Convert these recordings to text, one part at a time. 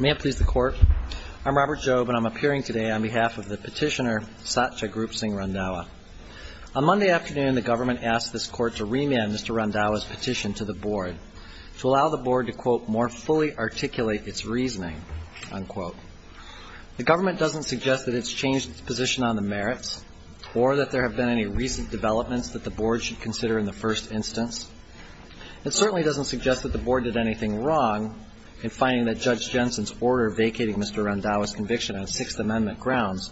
May it please the Court. I'm Robert Jobe, and I'm appearing today on behalf of the petitioner, Satya Group Singh Randhawa. On Monday afternoon, the government asked this Court to remand Mr. Randhawa's petition to the Board to allow the Board to, quote, more fully articulate its reasoning, unquote. The government doesn't suggest that it's changed its position on the merits or that there have been any recent developments that the Board should consider in the first instance. It certainly doesn't suggest that the Board did anything wrong in finding that Judge Jensen's order vacating Mr. Randhawa's conviction on Sixth Amendment grounds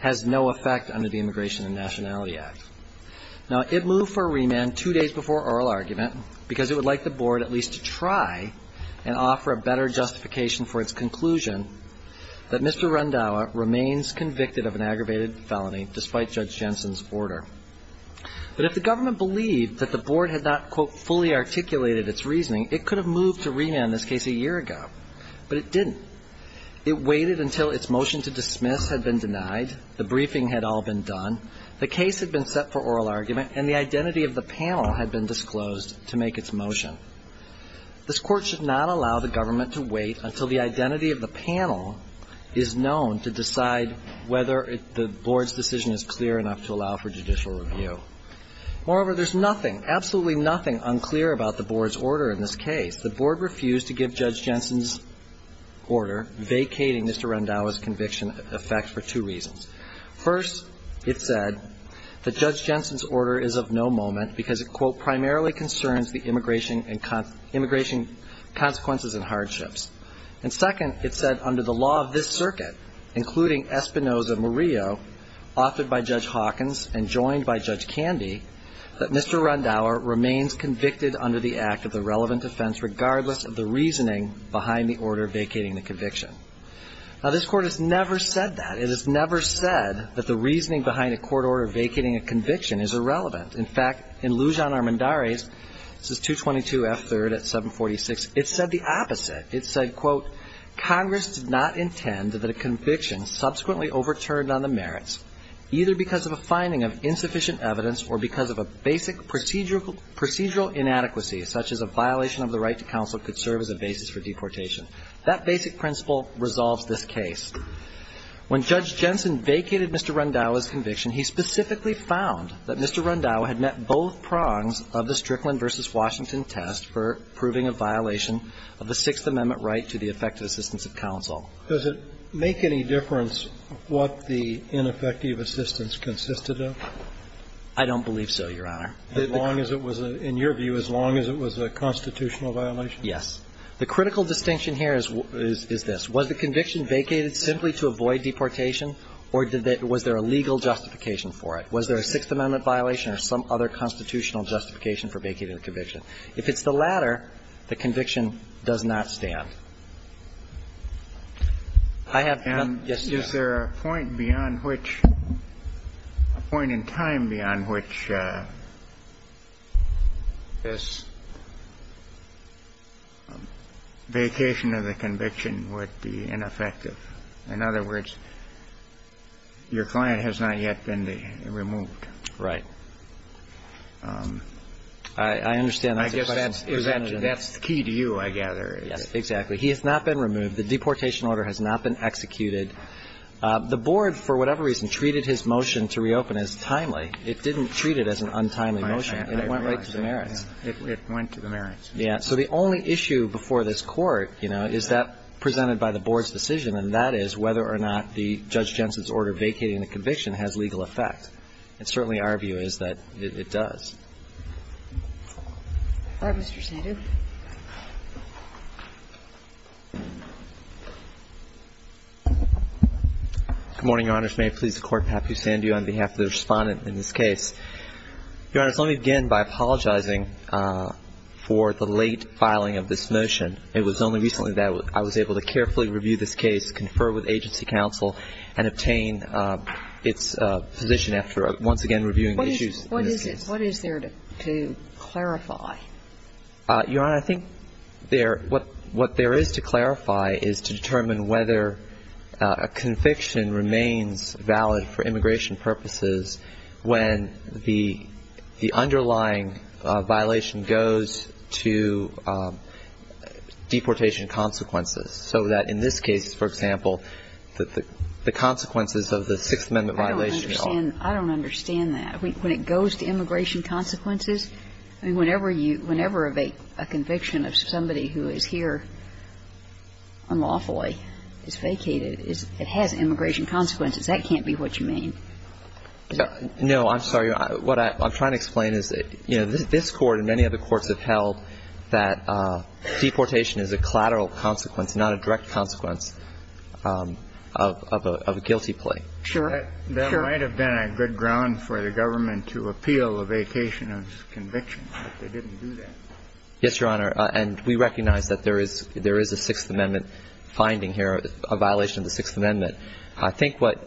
has no effect under the Immigration and Nationality Act. Now, it moved for remand two days before oral argument because it would like the Board at least to try and offer a better justification for its conclusion that Mr. Randhawa remains convicted of an aggravated felony despite Judge Jensen's order. But if the government believed that the Board had not, quote, fully articulated its reasoning, it could have moved to remand this case a year ago. But it didn't. It waited until its motion to dismiss had been denied, the briefing had all been done, the case had been set for oral argument, and the identity of the panel had been disclosed to make its motion. This Court should not allow the government to wait until the identity of the panel is Moreover, there's nothing, absolutely nothing unclear about the Board's order in this case. The Board refused to give Judge Jensen's order vacating Mr. Randhawa's conviction effect for two reasons. First, it said that Judge Jensen's order is of no moment because it, quote, primarily concerns the immigration and immigration consequences and hardships. And second, it said under the law of this circuit, including Espinoza-Murillo, authored by Judge Hawkins and joined by Judge Candy, that Mr. Randhawa remains convicted under the act of the relevant offense regardless of the reasoning behind the order vacating the conviction. Now, this Court has never said that. It has never said that the reasoning behind a court order vacating a conviction is irrelevant. In fact, in Lujan Armendariz, this is 222 F. 3rd at 746, it said the opposite. It said, quote, Congress did not intend that a conviction subsequently overturned on the merits, either because of a finding of insufficient evidence or because of a basic procedural inadequacy such as a violation of the right to counsel could serve as a basis for deportation. That basic principle resolves this case. When Judge Jensen vacated Mr. Randhawa's conviction, he specifically found that Mr. Randhawa had met both prongs of the Strickland v. Washington test for proving a violation of the Sixth Amendment right to the effective assistance of counsel. Does it make any difference what the ineffective assistance consisted of? I don't believe so, Your Honor. As long as it was, in your view, as long as it was a constitutional violation? Yes. The critical distinction here is this. Was the conviction vacated simply to avoid deportation, or was there a legal justification for it? Was there a Sixth Amendment violation or some other constitutional justification for vacating the conviction? If it's the latter, the conviction does not stand. I have done yes to that. And is there a point beyond which, a point in time beyond which this vacation of the conviction would be ineffective? In other words, your client has not yet been removed. Right. I understand that. I guess that's the key to you, I gather. Exactly. He has not been removed. The deportation order has not been executed. The board, for whatever reason, treated his motion to reopen as timely. It didn't treat it as an untimely motion. And it went right to the merits. It went to the merits. Yes. So the only issue before this Court, you know, is that presented by the board's decision, and that is whether or not the Judge Jensen's order vacating the conviction has legal effect. And certainly our view is that it does. All right. Mr. Sandu. Good morning, Your Honors. May it please the Court, I'm happy to stand to you on behalf of the Respondent in this case. Your Honors, let me begin by apologizing for the late filing of this motion. It was only recently that I was able to carefully review this case, confer with agency counsel, and obtain its position after once again reviewing issues in this case. What is there to clarify? Your Honor, I think there – what there is to clarify is to determine whether a conviction remains valid for immigration purposes when the underlying violation goes to deportation consequences. So that in this case, for example, the consequences of the Sixth Amendment violation are – I don't understand that. When it goes to immigration consequences, I mean, whenever a conviction of somebody who is here unlawfully is vacated, it has immigration consequences. That can't be what you mean. No, I'm sorry. What I'm trying to explain is that, you know, this Court and many other courts have held that deportation is a collateral consequence, not a direct consequence of a guilty plea. Sure. There might have been a good ground for the government to appeal a vacation of conviction, but they didn't do that. Yes, Your Honor. And we recognize that there is a Sixth Amendment finding here, a violation of the Sixth Amendment. I think what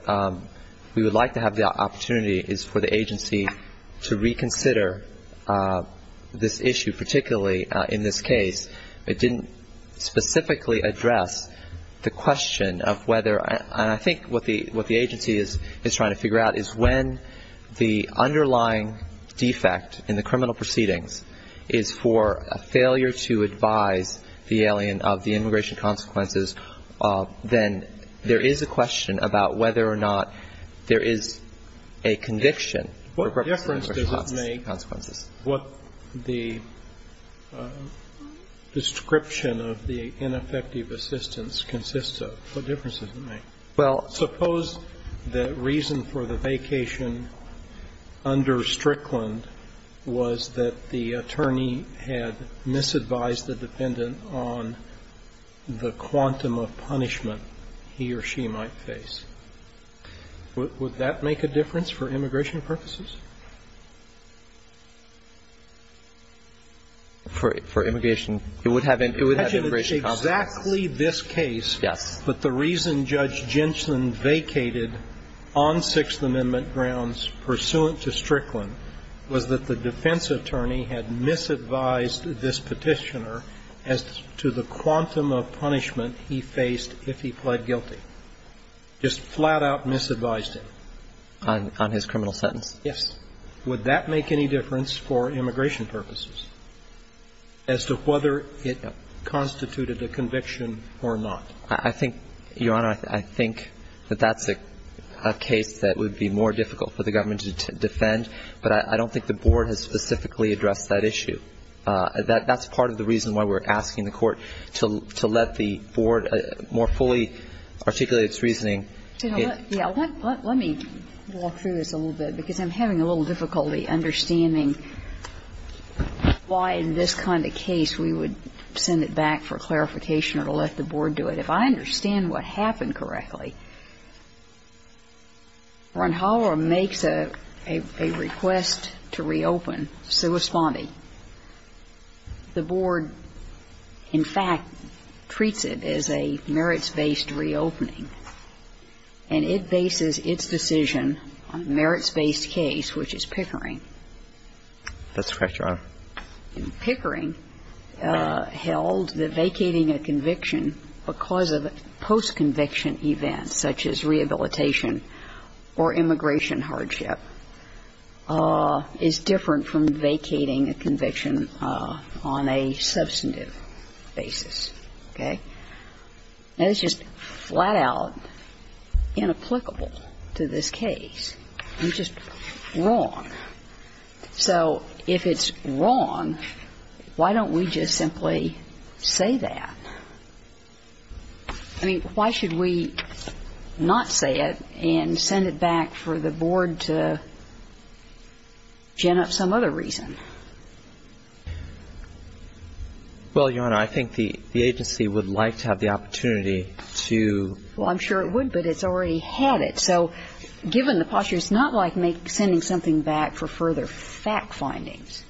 we would like to have the opportunity is for the agency to reconsider this issue, particularly in this case. It didn't specifically address the question of whether – and I think what the agency is trying to figure out is when the alien of the immigration consequences, then there is a question about whether or not there is a conviction for purpose of immigration What difference does it make what the description of the ineffective assistance consists of? What difference does it make? Well, suppose the reason for the vacation under Strickland was that the attorney had misadvised the defendant on the quantum of punishment he or she might face. Would that make a difference for immigration purposes? For immigration, it would have immigration consequences. I would imagine it's exactly this case. Yes. But the reason Judge Genshin vacated on Sixth Amendment grounds pursuant to Strickland was that the defense attorney had misadvised this petitioner as to the quantum of punishment he faced if he pled guilty. Just flat-out misadvised him. On his criminal sentence. Yes. Would that make any difference for immigration purposes as to whether it constituted a conviction or not? I think, Your Honor, I think that that's a case that would be more difficult for the government to defend, but I don't think the board has specifically addressed that issue. That's part of the reason why we're asking the Court to let the board more fully articulate its reasoning. Let me walk through this a little bit, because I'm having a little difficulty understanding why in this kind of case we would send it back for clarification or to let the board do it. If I understand what happened correctly, Ronhalo makes a request to reopen sui spondi. The board, in fact, treats it as a merits-based reopening. And it bases its decision on a merits-based case, which is Pickering. That's correct, Your Honor. And Pickering held that vacating a conviction because of a post-conviction event, such as rehabilitation or immigration hardship, is different from vacating a conviction on a substantive basis. Okay? Now, that's just flat-out inapplicable to this case. You're just wrong. So if it's wrong, why don't we just simply say that? I mean, why should we not say it and send it back for the board to gen up some other reason? Well, Your Honor, I think the agency would like to have the opportunity to ---- Well, I'm sure it would, but it's already had it. So given the posture, it's not like sending something back for further fact findings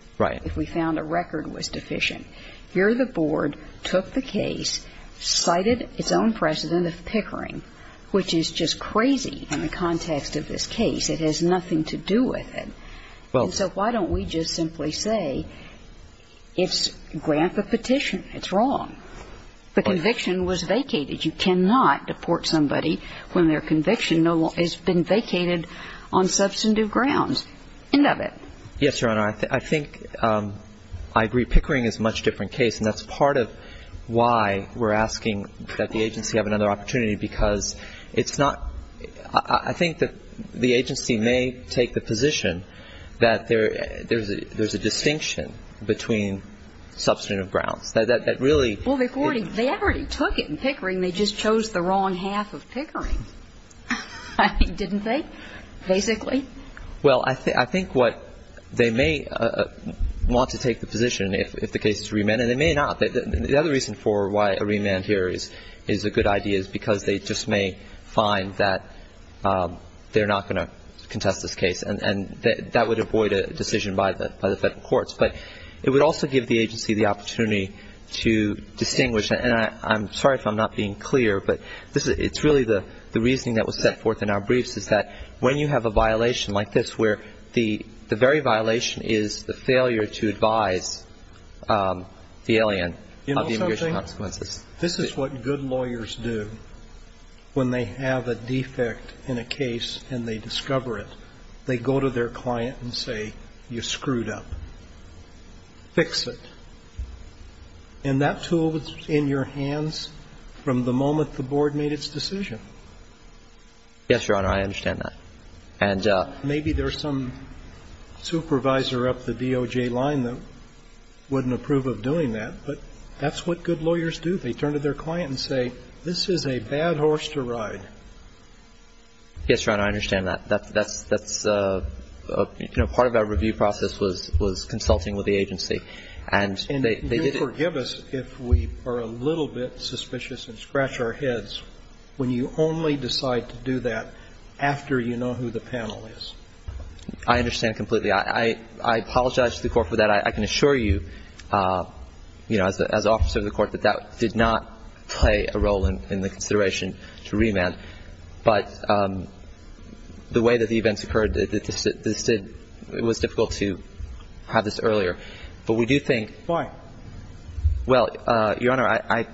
if we found a record was deficient. Here the board took the case, cited its own precedent of Pickering, which is just crazy in the context of this case. It has nothing to do with it. And so why don't we just simply say it's grant the petition. It's wrong. The conviction was vacated. You cannot deport somebody when their conviction has been vacated on substantive grounds. End of it. Yes, Your Honor. I think ---- I agree. Pickering is a much different case, and that's part of why we're asking that the agency have another opportunity, because it's not ---- I think that the agency may take the position that there's a distinction between substantive grounds, that really ---- Well, they already took it in Pickering. They just chose the wrong half of Pickering, didn't they, basically? Well, I think what they may want to take the position if the case is remanded, and they may not. The other reason for why a remand here is a good idea is because they just may find that they're not going to contest this case, and that would avoid a decision by the Federal courts. But it would also give the agency the opportunity to distinguish. And I'm sorry if I'm not being clear, but this is ---- it's really the reasoning that was set forth in our briefs is that when you have a violation like this where the very violation is the failure to advise the alien of the immigration consequences. This is what good lawyers do when they have a defect in a case and they discover it. They go to their client and say, you screwed up. Fix it. And that tool is in your hands from the moment the Board made its decision. Yes, Your Honor, I understand that. And ---- Maybe there's some supervisor up the DOJ line that wouldn't approve of doing that, but that's what good lawyers do. They turn to their client and say, this is a bad horse to ride. Yes, Your Honor, I understand that. That's a ---- you know, part of our review process was consulting with the agency. And they did ---- And you'll forgive us if we are a little bit suspicious and scratch our heads when you only decide to do that after you know who the panel is. I understand completely. I apologize to the Court for that. But I can assure you, you know, as officer of the Court, that that did not play a role in the consideration to remand. But the way that the events occurred, this did ---- it was difficult to have this earlier. But we do think ---- Why? Well, Your Honor, I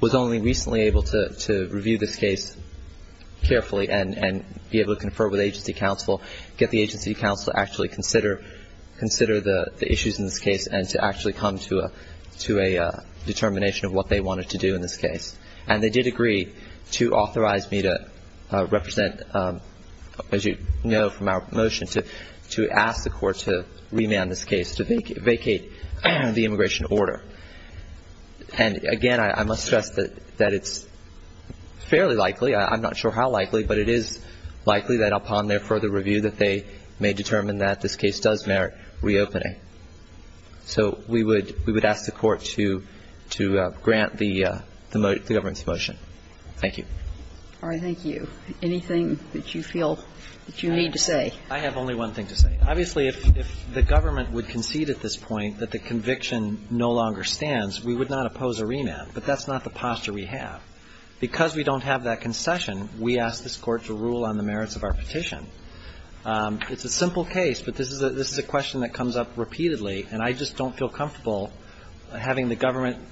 was only recently able to review this case carefully and be able to confer with agency counsel, get the agency counsel to actually consider the issues in this case and to actually come to a determination of what they wanted to do in this case. And they did agree to authorize me to represent, as you know from our motion, to ask the Court to remand this case, to vacate the immigration order. And, again, I must stress that it's fairly likely, I'm not sure how likely, but it is likely that upon their further review that they may determine that this case does merit reopening. So we would ask the Court to grant the government's motion. Thank you. All right. Thank you. Anything that you feel that you need to say? I have only one thing to say. Obviously, if the government would concede at this point that the conviction no longer stands, we would not oppose a remand. But that's not the posture we have. Because we don't have that concession, we ask this Court to rule on the merits of our petition. It's a simple case, but this is a question that comes up repeatedly, and I just don't feel comfortable having the government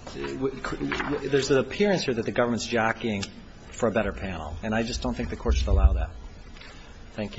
– there's an appearance here that the government is jockeying for a better panel. And I just don't think the Court should allow that. Thank you.